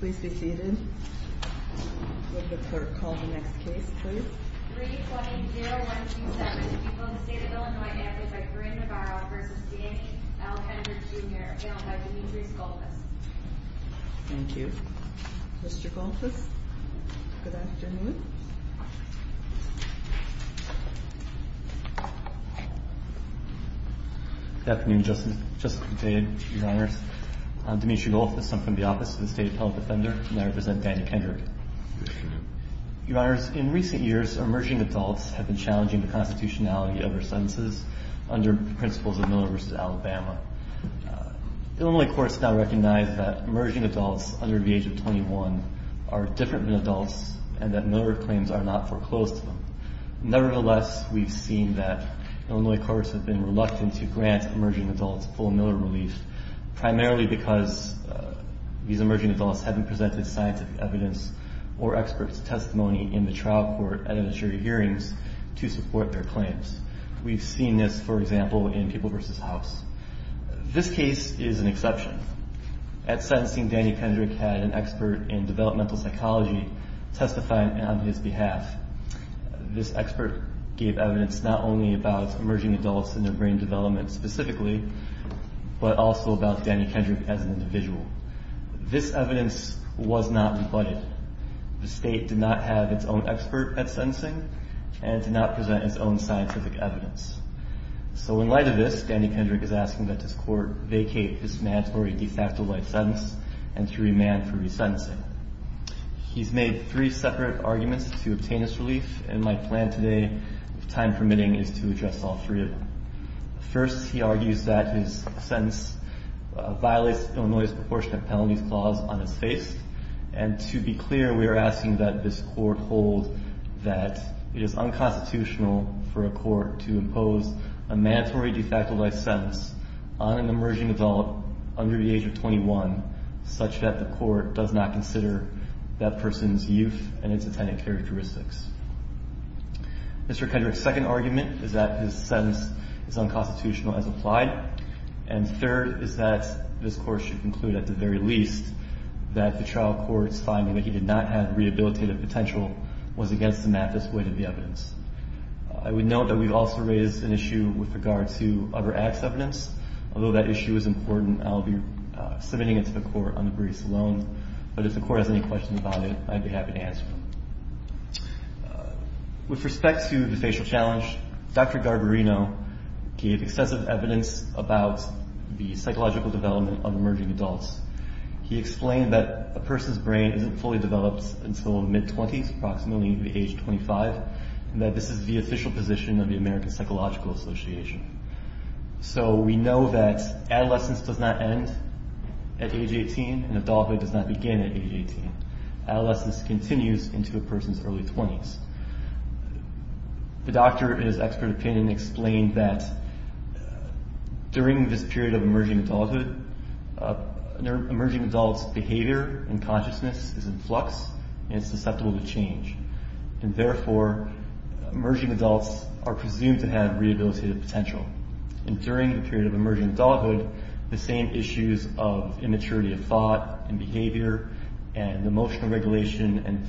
320-0127 to people in the state of Illinois acted by Corrine Navarro v. D. A. L. Kendrick Jr. Ailed by Demetrius Gullfuss. Thank you. Mr. Gullfuss, good afternoon. Good afternoon, Justice, Justice McDade, Your Honors. I'm Demetrius Gullfuss. I'm from the Office of the State Appellate Defender, and I represent Daniel Kendrick. Your Honors, in recent years, emerging adults have been challenging the constitutionality of their sentences under the principles of Milner v. Alabama. The Illinois courts now recognize that emerging adults under the age of 21 are different than adults, and that Milner claims are not foreclosed to them. Nevertheless, we've seen that Illinois courts have been reluctant to grant emerging adults full Milner relief, primarily because these emerging adults haven't presented scientific evidence or expert testimony in the trial court and in jury hearings to support their claims. We've seen this, for example, in People v. House. This case is an exception. At sentencing, Danny Kendrick had an expert in developmental psychology testify on his behalf. This expert gave evidence not only about emerging adults and their brain development specifically, but also about Danny Kendrick as an individual. This evidence was not rebutted. The state did not have its own expert at sentencing and did not present its own scientific evidence. So in light of this, Danny Kendrick is asking that this court vacate this mandatory de facto life sentence and to remand for resentencing. He's made three separate arguments to obtain this relief, and my plan today, if time permitting, is to address all three of them. First, he argues that his sentence violates Illinois' proportionate penalties clause on its face. And to be clear, we are asking that this court hold that it is unconstitutional for a court to impose a mandatory de facto life sentence on an emerging adult under the age of 21, such that the court does not consider that person's youth and its attendant characteristics. Mr. Kendrick's second argument is that his sentence is unconstitutional as applied. And third is that this Court should conclude at the very least that the trial court's finding that he did not have rehabilitative potential was against the mathis weight of the evidence. I would note that we've also raised an issue with regard to other acts of evidence. Although that issue is important, I'll be submitting it to the Court on the briefs alone. But if the Court has any questions about it, I'd be happy to answer them. With respect to the facial challenge, Dr. Garbarino gave excessive evidence about the psychological development of emerging adults. He explained that a person's brain isn't fully developed until mid-20s, approximately the age of 25, and that this is the official position of the American Psychological Association. So we know that adolescence does not end at age 18, and adulthood does not begin at age 18. Adolescence continues into a person's early 20s. The doctor, in his expert opinion, explained that during this period of emerging adulthood, emerging adult's behavior and consciousness is in flux and susceptible to change. And therefore, emerging adults are presumed to have rehabilitative potential. And during the period of emerging adulthood, the same issues of immaturity of thought and behavior and emotional regulation and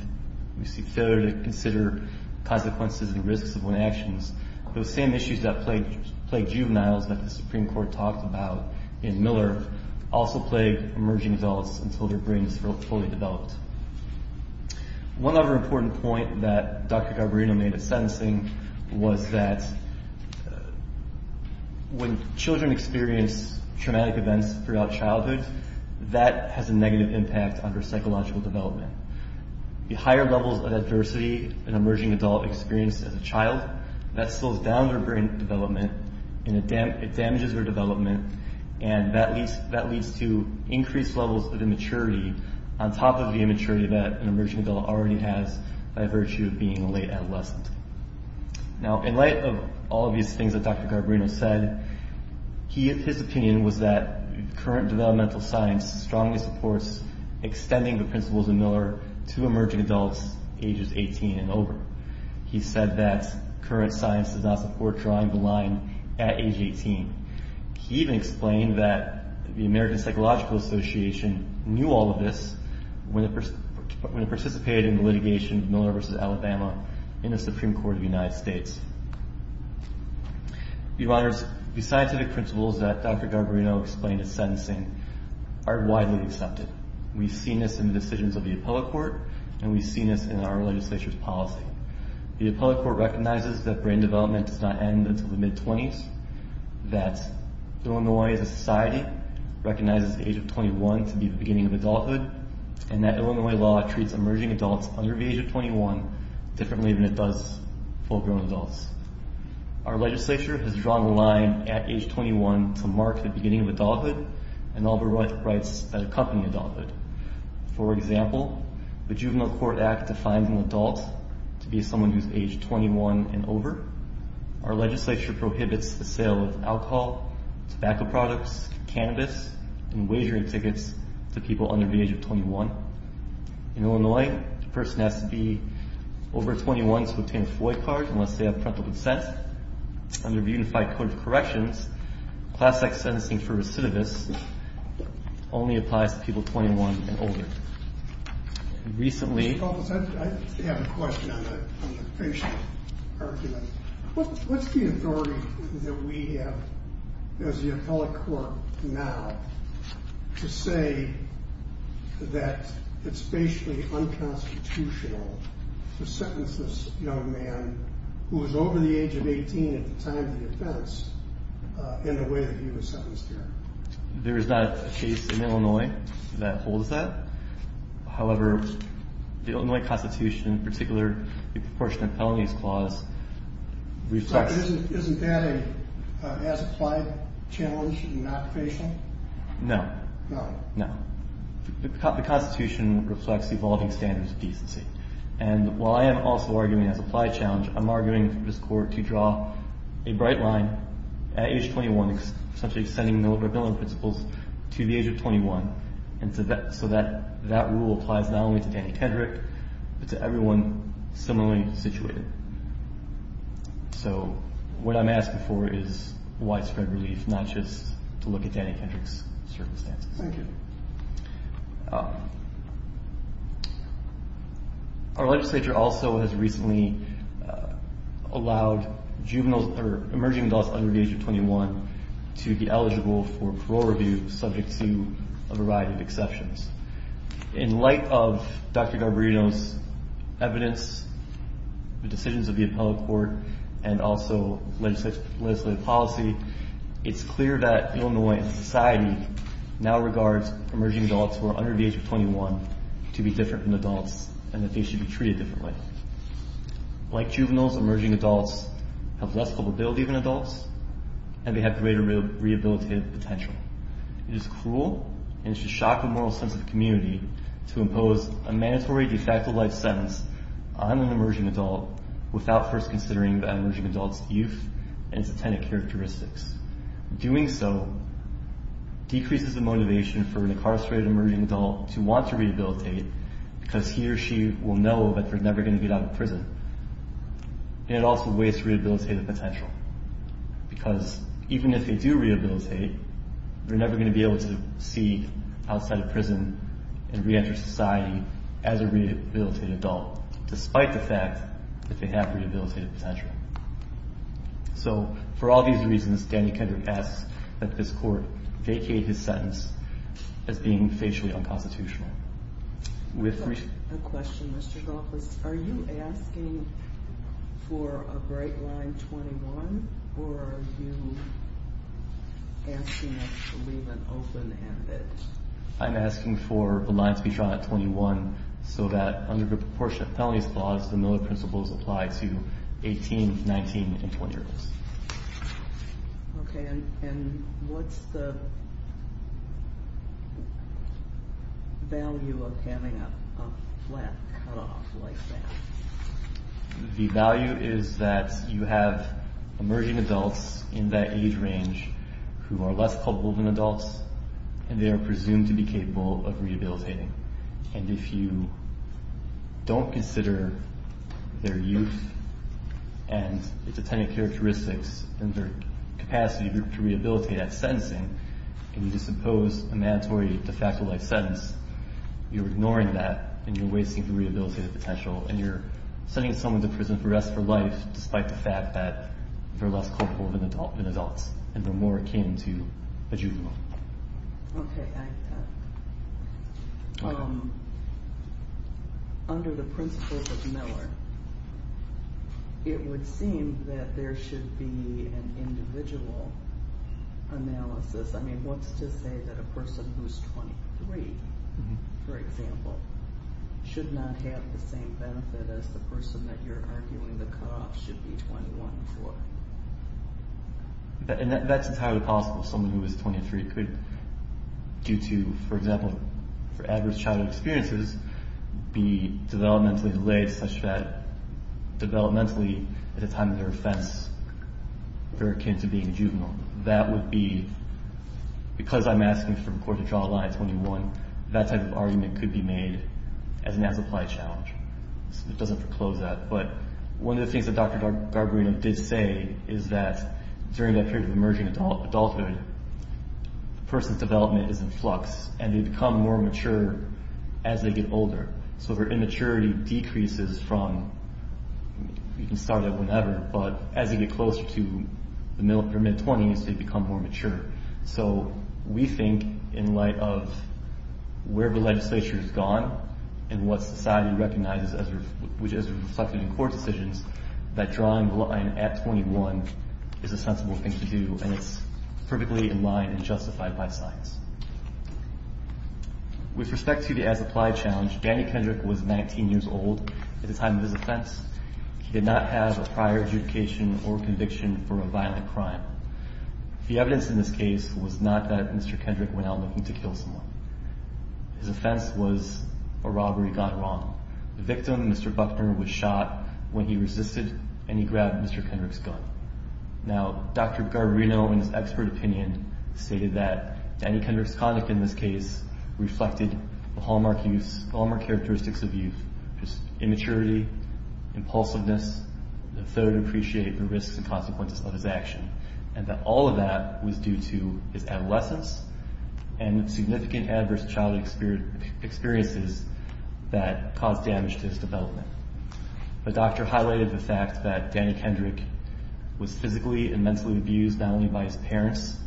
failure to consider consequences and risks of one's actions, those same issues that plague juveniles that the Supreme Court talked about in Miller also plague emerging adults until their brain is fully developed. One other important point that Dr. Garbarino made at sentencing was that when children experience traumatic events throughout childhood, that has a negative impact on their psychological development. The higher levels of adversity an emerging adult experiences as a child, that slows down their brain development and it damages their development, and that leads to increased levels of immaturity, on top of the immaturity that an emerging adult already has by virtue of being a late adolescent. Now, in light of all of these things that Dr. Garbarino said, his opinion was that current developmental science strongly supports extending the principles of Miller to emerging adults ages 18 and over. He said that current science does not support drawing the line at age 18. He even explained that the American Psychological Association knew all of this when it participated in the litigation of Miller v. Alabama in the Supreme Court of the United States. Your Honors, the scientific principles that Dr. Garbarino explained at sentencing are widely accepted. We've seen this in the decisions of the appellate court, and we've seen this in our legislature's policy. The appellate court recognizes that brain development does not end until the mid-20s, that Illinois as a society recognizes the age of 21 to be the beginning of adulthood, and that Illinois law treats emerging adults under the age of 21 differently than it does full-grown adults. Our legislature has drawn the line at age 21 to mark the beginning of adulthood and all the rights that accompany adulthood. For example, the Juvenile Court Act defines an adult to be someone who's age 21 and over. Our legislature prohibits the sale of alcohol, tobacco products, cannabis, and wagering tickets to people under the age of 21. In Illinois, the person has to be over 21 to obtain a FOIA card unless they have parental consent. Under the Unified Code of Corrections, class-X sentencing for recidivists only applies to people 21 and older. Recently... I have a question on the patient argument. What's the authority that we have as the appellate court now to say that it's basically unconstitutional to sentence this young man who was over the age of 18 at the time of the offense in the way that he was sentenced here? There is not a case in Illinois that holds that. However, the Illinois Constitution, in particular, the Proportionate Penalties Clause, reflects... Isn't that an as-applied challenge in an occupation? No. No. No. The Constitution reflects evolving standards of decency. And while I am also arguing an as-applied challenge, I'm arguing for this Court to draw a bright line at age 21, essentially extending the rebellion principles to the age of 21, so that rule applies not only to Danny Kendrick but to everyone similarly situated. So what I'm asking for is widespread relief, not just to look at Danny Kendrick's circumstances. Thank you. Our legislature also has recently allowed emerging adults under the age of 21 to be eligible for parole review subject to a variety of exceptions. In light of Dr. Garbarino's evidence, the decisions of the Appellate Court, and also legislative policy, it's clear that Illinois society now regards emerging adults who are under the age of 21 to be different from adults and that they should be treated differently. Like juveniles, emerging adults have less vulnerability than adults, and they have greater rehabilitative potential. It is cruel and it should shock the moral sense of the community to impose a mandatory de facto life sentence on an emerging adult without first considering that emerging adult's youth and its attendant characteristics. Doing so decreases the motivation for an incarcerated emerging adult to want to rehabilitate because he or she will know that they're never going to get out of prison. And it also wastes rehabilitative potential because even if they do rehabilitate, they're never going to be able to see outside of prison and reenter society as a rehabilitated adult, despite the fact that they have rehabilitative potential. So for all these reasons, Danny Kendrick asks that this court vacate his sentence as being facially unconstitutional. We have a question, Mr. Goff. Are you asking for a bright line 21, or are you asking us to leave it open-ended? I'm asking for the line to be drawn at 21 so that under the proportionate felonies clause, the Miller Principles apply to 18, 19, and 20-year-olds. Okay, and what's the value of having a flat cutoff like that? The value is that you have emerging adults in that age range who are less culpable than adults, and they are presumed to be capable of rehabilitating. And if you don't consider their youth and their dependent characteristics and their capacity to rehabilitate at sentencing, and you disoppose a mandatory de facto life sentence, you're ignoring that and you're wasting the rehabilitative potential, and you're sending someone to prison for the rest of their life, despite the fact that they're less culpable than adults, and they're more akin to a juvenile. Okay. Under the principles of Miller, it would seem that there should be an individual analysis. I mean, what's to say that a person who's 23, for example, should not have the same benefit as the person that you're arguing the cutoff should be 21 for? That's entirely possible. Someone who is 23 could, due to, for example, adverse childhood experiences, be developmentally delayed such that developmentally, at the time of their offense, they're akin to being a juvenile. That would be, because I'm asking for the court to draw a line at 21, that type of argument could be made as an as-applied challenge. It doesn't foreclose that. But one of the things that Dr. Garbarino did say is that during that period of emerging adulthood, the person's development is in flux, and they become more mature as they get older. So their immaturity decreases from, you can start at whenever, but as they get closer to their mid-20s, they become more mature. So we think, in light of where the legislature has gone and what society recognizes as reflected in court decisions, that drawing the line at 21 is a sensible thing to do, and it's perfectly in line and justified by science. With respect to the as-applied challenge, Danny Kendrick was 19 years old at the time of his offense. He did not have a prior adjudication or conviction for a violent crime. The evidence in this case was not that Mr. Kendrick went out looking to kill someone. His offense was a robbery got wrong. The victim, Mr. Buckner, was shot when he resisted, and he grabbed Mr. Kendrick's gun. Now, Dr. Garbarino, in his expert opinion, stated that Danny Kendrick's conduct in this case reflected the hallmark characteristics of youth, which is immaturity, impulsiveness, and a failure to appreciate the risks and consequences of his action, and that all of that was due to his adolescence and significant adverse childhood experiences that caused damage to his development. The doctor highlighted the fact that Danny Kendrick was physically and mentally abused, not only by his parents,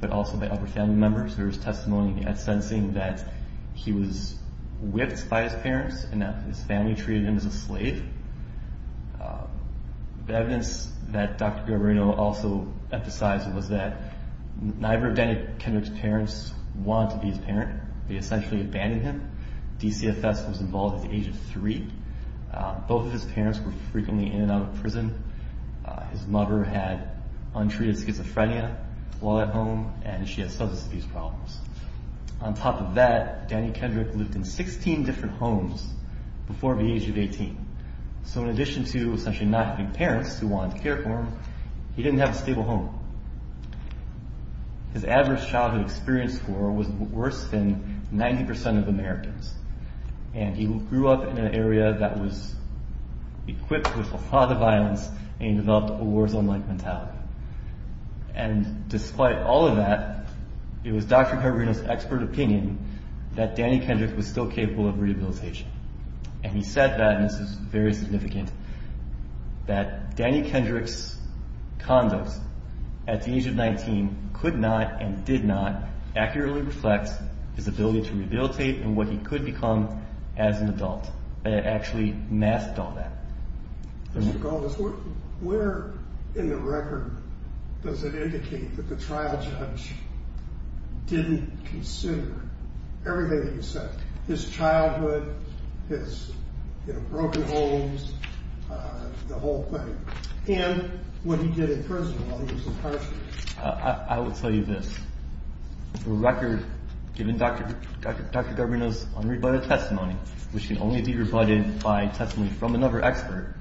but also by other family members. There was testimony at sentencing that he was whipped by his parents and that his family treated him as a slave. The evidence that Dr. Garbarino also emphasized was that neither of Danny Kendrick's parents wanted to be his parent. They essentially abandoned him. DCFS was involved at the age of three. Both of his parents were frequently in and out of prison. His mother had untreated schizophrenia while at home, and she had substance abuse problems. On top of that, Danny Kendrick lived in 16 different homes before the age of 18. So in addition to essentially not having parents who wanted to care for him, he didn't have a stable home. His adverse childhood experience score was worse than 90% of Americans, and he grew up in an area that was equipped with a lot of violence and he developed a warzone-like mentality. And despite all of that, it was Dr. Garbarino's expert opinion that Danny Kendrick was still capable of rehabilitation. And he said that, and this is very significant, that Danny Kendrick's condos at the age of 19 could not and did not accurately reflect his ability to rehabilitate and what he could become as an adult. It actually masked all that. Mr. Garbus, where in the record does it indicate that the trial judge didn't consider everything that you said? His childhood, his broken homes, the whole thing. And what he did in prison while he was incarcerated. I will tell you this. The record, given Dr. Garbarino's unrebutted testimony, which can only be rebutted by testimony from another expert,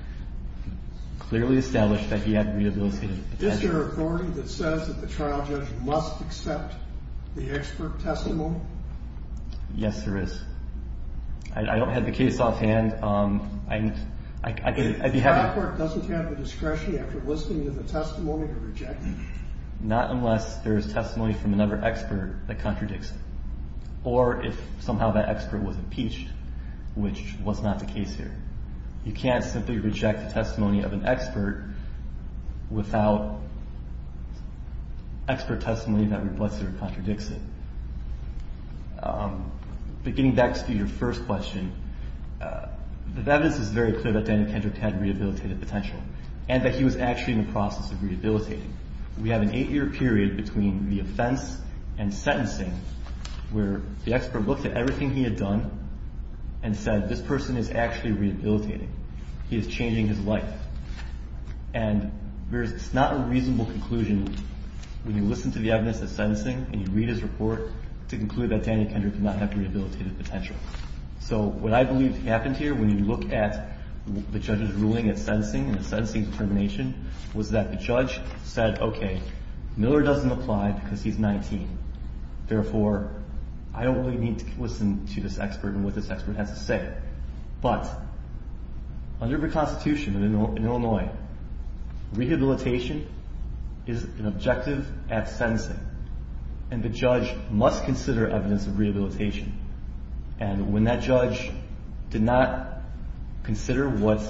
clearly established that he had rehabilitated potential. Is there an authority that says that the trial judge must accept the expert testimony? Yes, there is. I don't have the case offhand. The court doesn't have the discretion after listening to the testimony to reject it? Not unless there is testimony from another expert that contradicts it or if somehow that expert was impeached, which was not the case here. You can't simply reject the testimony of an expert without expert testimony that reflects or contradicts it. But getting back to your first question, the evidence is very clear that Daniel Kendrick had rehabilitated potential and that he was actually in the process of rehabilitating. We have an eight-year period between the offense and sentencing where the expert looked at everything he had done and said this person is actually rehabilitating. He is changing his life. And it's not a reasonable conclusion when you listen to the evidence at sentencing and you read his report to conclude that Daniel Kendrick did not have rehabilitated potential. So what I believe happened here when you look at the judge's ruling at sentencing and the sentencing determination was that the judge said, okay, Miller doesn't apply because he's 19. Therefore, I don't really need to listen to this expert and what this expert has to say. But under the Constitution in Illinois, rehabilitation is an objective at sentencing. And the judge must consider evidence of rehabilitation. And when that judge did not consider what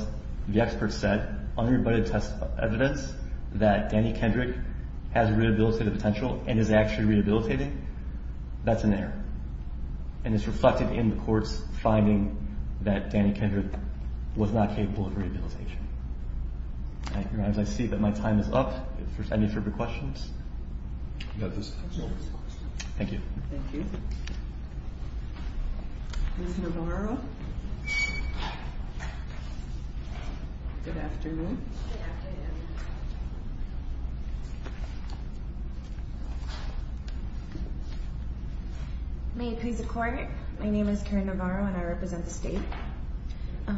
the expert said under the evidence that Daniel Kendrick has rehabilitated potential and is actually rehabilitating, that's an error. And it's reflected in the court's finding that Daniel Kendrick was not capable of rehabilitation. I see that my time is up. If there's any further questions. Thank you. Thank you. Ms. Navarro. Good afternoon. Good afternoon. Good afternoon. May it please the Court. My name is Karen Navarro, and I represent the state. A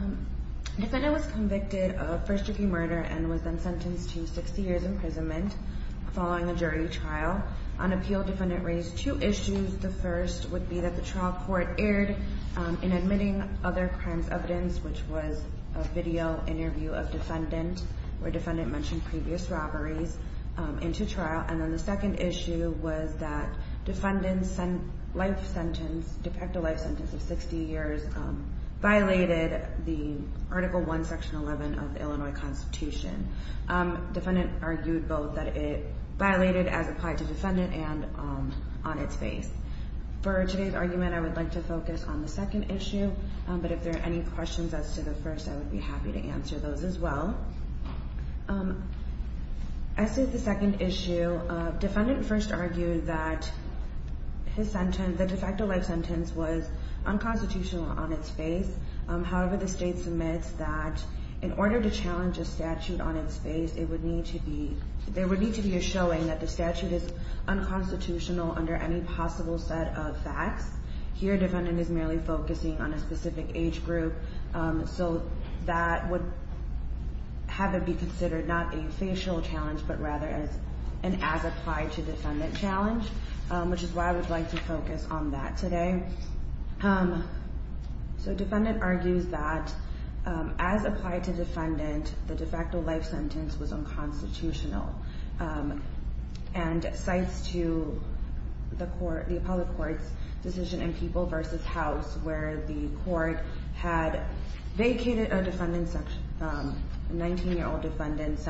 defendant was convicted of first-degree murder and was then sentenced to 60 years' imprisonment following a jury trial. On appeal, defendant raised two issues. The first would be that the trial court erred in admitting other crimes evidence, which was a video interview of defendant where defendant mentioned previous robberies into trial. And then the second issue was that defendant's life sentence, de facto life sentence of 60 years, violated the Article I, Section 11 of the Illinois Constitution. Defendant argued both that it violated as applied to defendant and on its face. For today's argument, I would like to focus on the second issue. But if there are any questions as to the first, I would be happy to answer those as well. As to the second issue, defendant first argued that the de facto life sentence was unconstitutional on its face. However, the state submits that in order to challenge a statute on its face, there would need to be a showing that the statute is unconstitutional under any possible set of facts. Here, defendant is merely focusing on a specific age group. So that would have it be considered not a facial challenge, but rather as an as-applied-to-defendant challenge, which is why I would like to focus on that today. So defendant argues that as applied to defendant, the de facto life sentence was unconstitutional. And cites to the appellate court's decision in People v. House, where the court had vacated a 19-year-old defendant's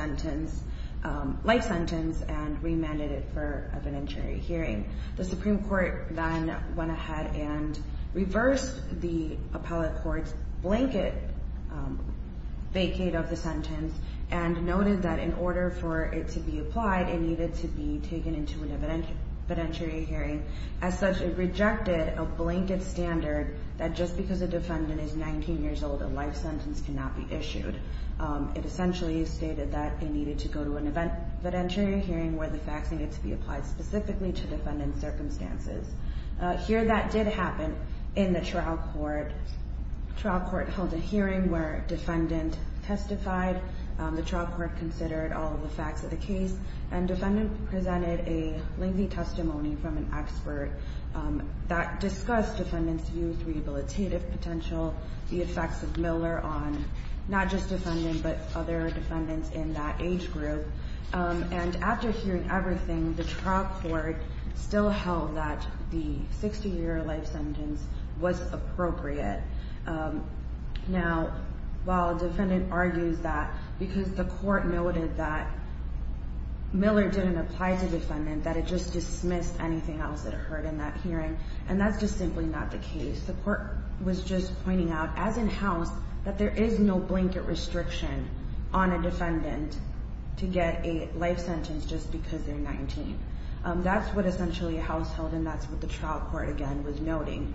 life sentence and remanded it for evidentiary hearing. The Supreme Court then went ahead and reversed the appellate court's blanket vacate of the sentence and noted that in order for it to be applied, it needed to be taken into an evidentiary hearing. As such, it rejected a blanket standard that just because a defendant is 19 years old, a life sentence cannot be issued. It essentially stated that it needed to go to an evidentiary hearing where the facts needed to be applied specifically to defendant's circumstances. Here that did happen in the trial court. Trial court held a hearing where defendant testified. The trial court considered all of the facts of the case, and defendant presented a lengthy testimony from an expert that discussed defendant's views, rehabilitative potential, the effects of Miller on not just defendant, but other defendants in that age group. After hearing everything, the trial court still held that the 60-year life sentence was appropriate. Now, while defendant argues that because the court noted that Miller didn't apply to defendant, that it just dismissed anything else that occurred in that hearing, and that's just simply not the case. The court was just pointing out, as in-house, that there is no blanket restriction on a defendant to get a life sentence just because they're 19. That's what essentially a house held, and that's what the trial court, again, was noting.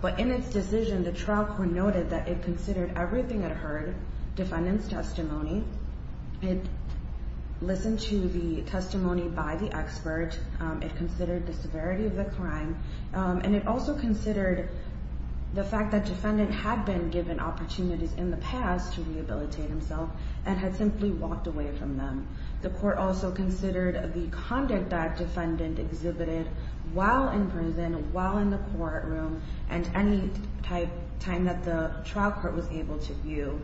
But in its decision, the trial court noted that it considered everything it heard, defendant's testimony. It listened to the testimony by the expert. It considered the severity of the crime. And it also considered the fact that defendant had been given opportunities in the past to rehabilitate himself and had simply walked away from them. The court also considered the conduct that defendant exhibited while in prison, while in the courtroom, and any time that the trial court was able to view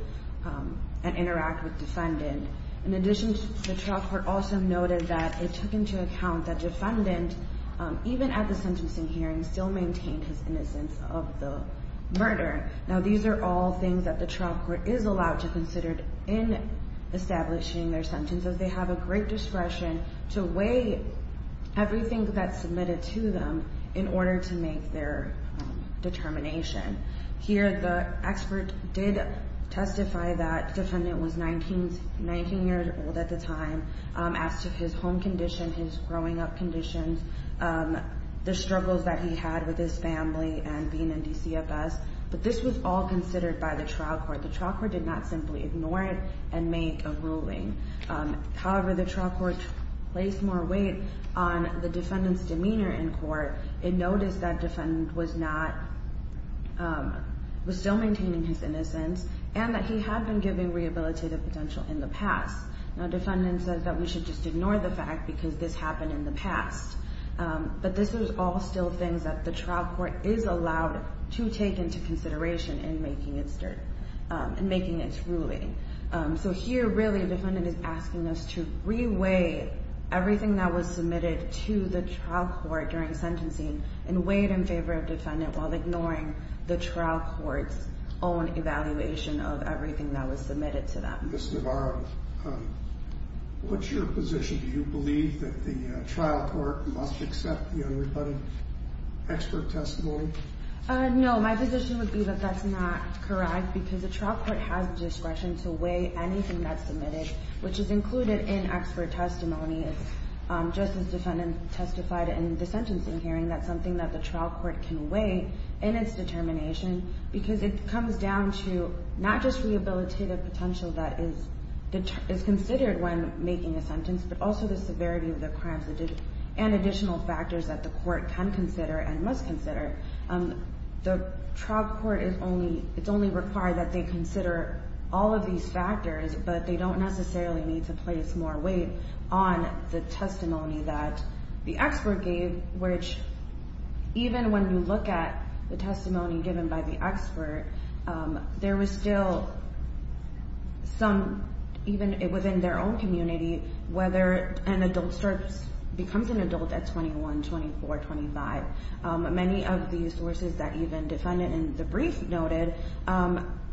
and interact with defendant. In addition, the trial court also noted that it took into account that defendant, even at the sentencing hearing, still maintained his innocence of the murder. Now, these are all things that the trial court is allowed to consider in establishing their sentence, as they have a great discretion to weigh everything that's submitted to them in order to make their determination. Here, the expert did testify that defendant was 19 years old at the time, as to his home condition, his growing up conditions, the struggles that he had with his family and being in DCFS. But this was all considered by the trial court. The trial court did not simply ignore it and make a ruling. However, the trial court placed more weight on the defendant's demeanor in court. It noticed that defendant was still maintaining his innocence and that he had been given rehabilitative potential in the past. Now, defendant says that we should just ignore the fact because this happened in the past. But this is all still things that the trial court is allowed to take into consideration in making its ruling. So here, really, defendant is asking us to re-weigh everything that was submitted to the trial court during sentencing and weigh it in favor of defendant while ignoring the trial court's own evaluation of everything that was submitted to them. Ms. Navarro, what's your position? Do you believe that the trial court must accept the unrebutted expert testimony? No, my position would be that that's not correct because the trial court has the discretion to weigh anything that's submitted, which is included in expert testimony. It's just as defendant testified in the sentencing hearing. That's something that the trial court can weigh in its determination because it comes down to not just rehabilitative potential that is considered when making a sentence, but also the severity of the crimes and additional factors that the court can consider and must consider. The trial court, it's only required that they consider all of these factors, but they don't necessarily need to place more weight on the testimony that the expert gave, which even when you look at the testimony given by the expert, there was still some, even within their own community, whether an adult starts, becomes an adult at 21, 24, 25. Many of the sources that even defendant in the brief noted,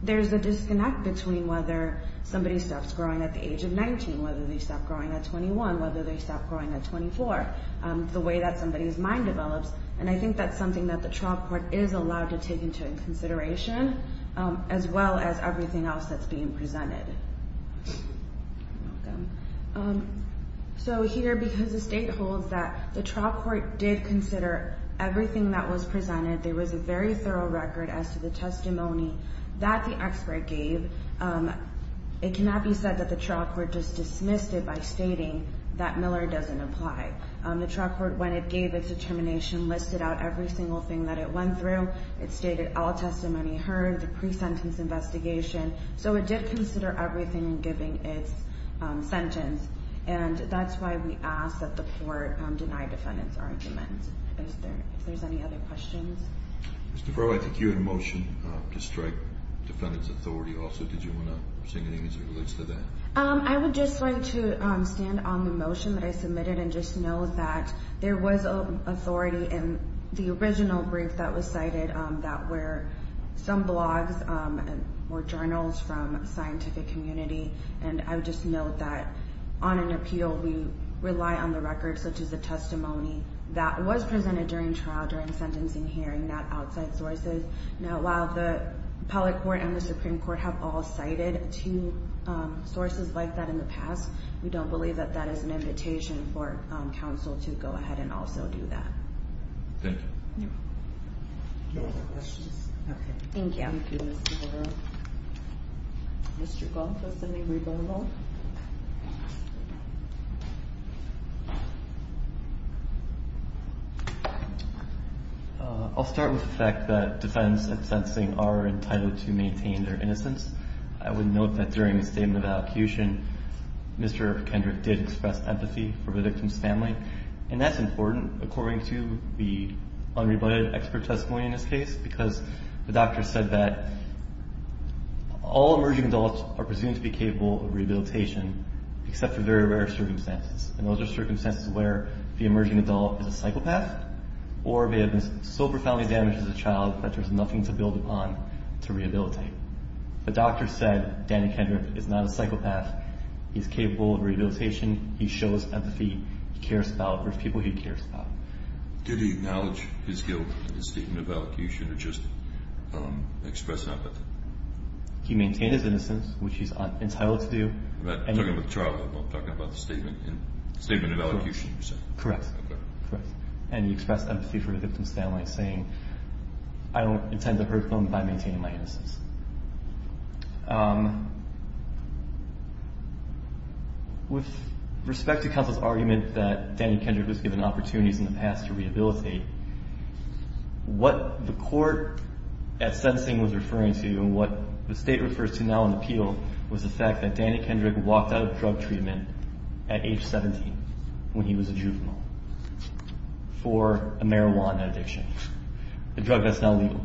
there's a disconnect between whether somebody stops growing at the age of 19, whether they stop growing at 21, whether they stop growing at 24, the way that somebody's mind develops. And I think that's something that the trial court is allowed to take into consideration, as well as everything else that's being presented. So here, because the state holds that the trial court did consider everything that was presented, there was a very thorough record as to the testimony that the expert gave. It cannot be said that the trial court just dismissed it by stating that Miller doesn't apply. The trial court, when it gave its determination, listed out every single thing that it went through. It stated all testimony heard, the pre-sentence investigation. So it did consider everything in giving its sentence. And that's why we ask that the court deny defendants' arguments. If there's any other questions. Mr. Crowe, I think you had a motion to strike defendant's authority also. Did you want to say anything as it relates to that? I would just like to stand on the motion that I submitted and just know that there was authority in the original brief that was cited, that were some blogs or journals from scientific community. And I would just note that on an appeal, we rely on the records, such as the testimony that was presented during trial during sentencing hearing, not outside sources. Now, while the appellate court and the Supreme Court have all cited two sources like that in the past, we don't believe that that is an invitation for counsel to go ahead and also do that. Thank you. Any other questions? Okay. Thank you. Thank you, Mr. Crowe. Mr. Gold, do you have something you'd like to add? I'll start with the fact that defendants in sentencing are entitled to maintain their innocence. I would note that during the statement of allocution, Mr. Kendrick did express empathy for the victim's family. And that's important, according to the unrebutted expert testimony in this case, because the doctor said that all emerging adults are presumed to be capable of rehabilitation, except for very rare circumstances. And those are circumstances where the emerging adult is a psychopath or they have been so profoundly damaged as a child that there's nothing to build upon to rehabilitate. The doctor said Danny Kendrick is not a psychopath. He's capable of rehabilitation. He shows empathy. He cares about the people he cares about. Did he acknowledge his guilt in the statement of allocution or just express empathy? He maintained his innocence, which he's entitled to do. You're talking about the trial. I'm talking about the statement of allocution, you're saying. Correct. Correct. And he expressed empathy for the victim's family, saying, I don't intend to hurt them by maintaining my innocence. With respect to counsel's argument that Danny Kendrick was given opportunities in the past to rehabilitate, what the court at sentencing was referring to and what the state refers to now in appeal was the fact that Danny Kendrick walked out of drug treatment at age 17 when he was a juvenile for a marijuana addiction, a drug that's now legal.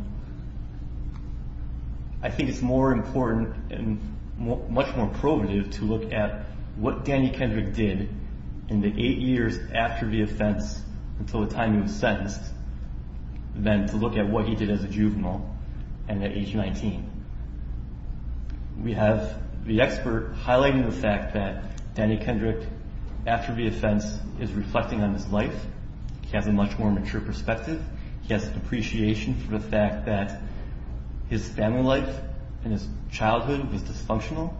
I think it's more important and much more probative to look at what Danny Kendrick did in the eight years after the offense until the time he was sentenced than to look at what he did as a juvenile and at age 19. We have the expert highlighting the fact that Danny Kendrick, after the offense, is reflecting on his life. He has a much more mature perspective. He has an appreciation for the fact that his family life and his childhood was dysfunctional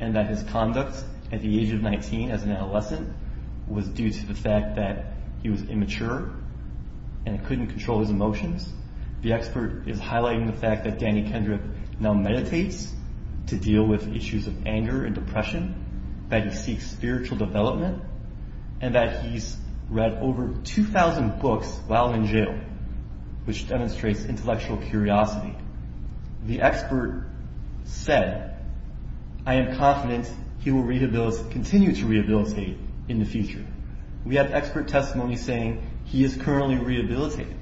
and that his conduct at the age of 19 as an adolescent was due to the fact that he was immature and couldn't control his emotions. The expert is highlighting the fact that Danny Kendrick now meditates to deal with issues of anger and depression, that he seeks spiritual development, and that he's read over 2,000 books while in jail, which demonstrates intellectual curiosity. The expert said, I am confident he will continue to rehabilitate in the future. We have expert testimony saying he is currently rehabilitating.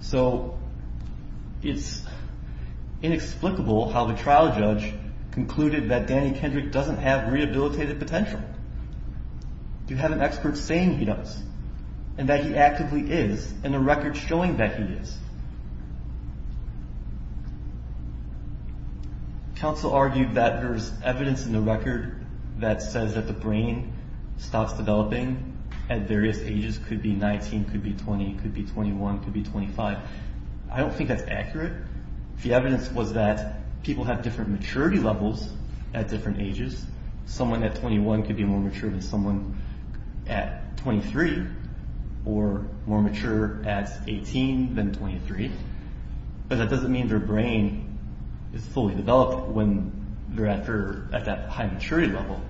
So it's inexplicable how the trial judge concluded that Danny Kendrick doesn't have rehabilitated potential. You have an expert saying he does and that he actively is and a record showing that he is. Counsel argued that there's evidence in the record that says that the brain stops developing at various ages, could be 19, could be 20, could be 21, could be 25. I don't think that's accurate. The evidence was that people have different maturity levels at different ages. Someone at 21 could be more mature than someone at 23 or more mature at 18 than 23. But that doesn't mean their brain is fully developed when they're at that high maturity level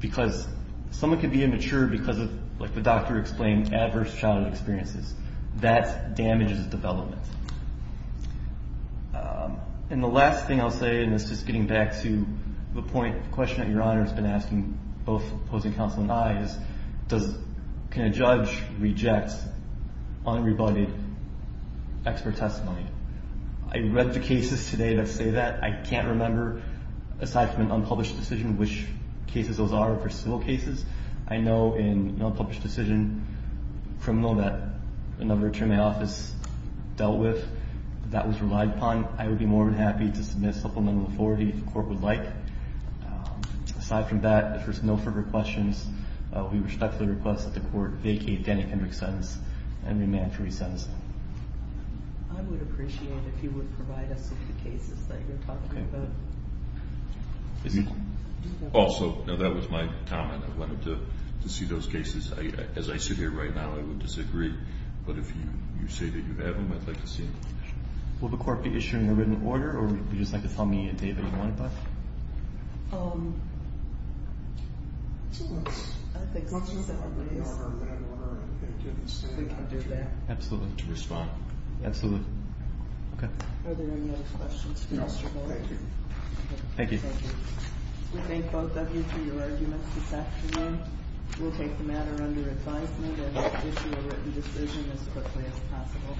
because someone could be immature because of, like the doctor explained, adverse childhood experiences. That damages development. And the last thing I'll say, and this is getting back to the point, the question that Your Honor has been asking both opposing counsel and I, is can a judge reject unrebutted expert testimony? I read the cases today that say that. I can't remember, aside from an unpublished decision, which cases those are versus civil cases. I know in an unpublished decision, criminal that another attorney in my office dealt with, that was relied upon. I would be more than happy to submit supplemental authority if the court would like. Aside from that, if there's no further questions, we respectfully request that the court vacate Danny Kendrick's sentence and remand for re-sentencing. I would appreciate it if you would provide us with the cases that you're talking about. Also, that was my comment. I wanted to see those cases. As I sit here right now, I would disagree. But if you say that you have them, I'd like to see them. Will the court be issuing a written order, or would you just like to tell me a date that you want it done? Um, I think let's just set the date. We can do that. Absolutely. To respond. Absolutely. Okay. Are there any other questions? No. Thank you. Thank you. We thank both of you for your arguments this afternoon. We'll take the matter under advisement and issue a written decision as quickly as possible.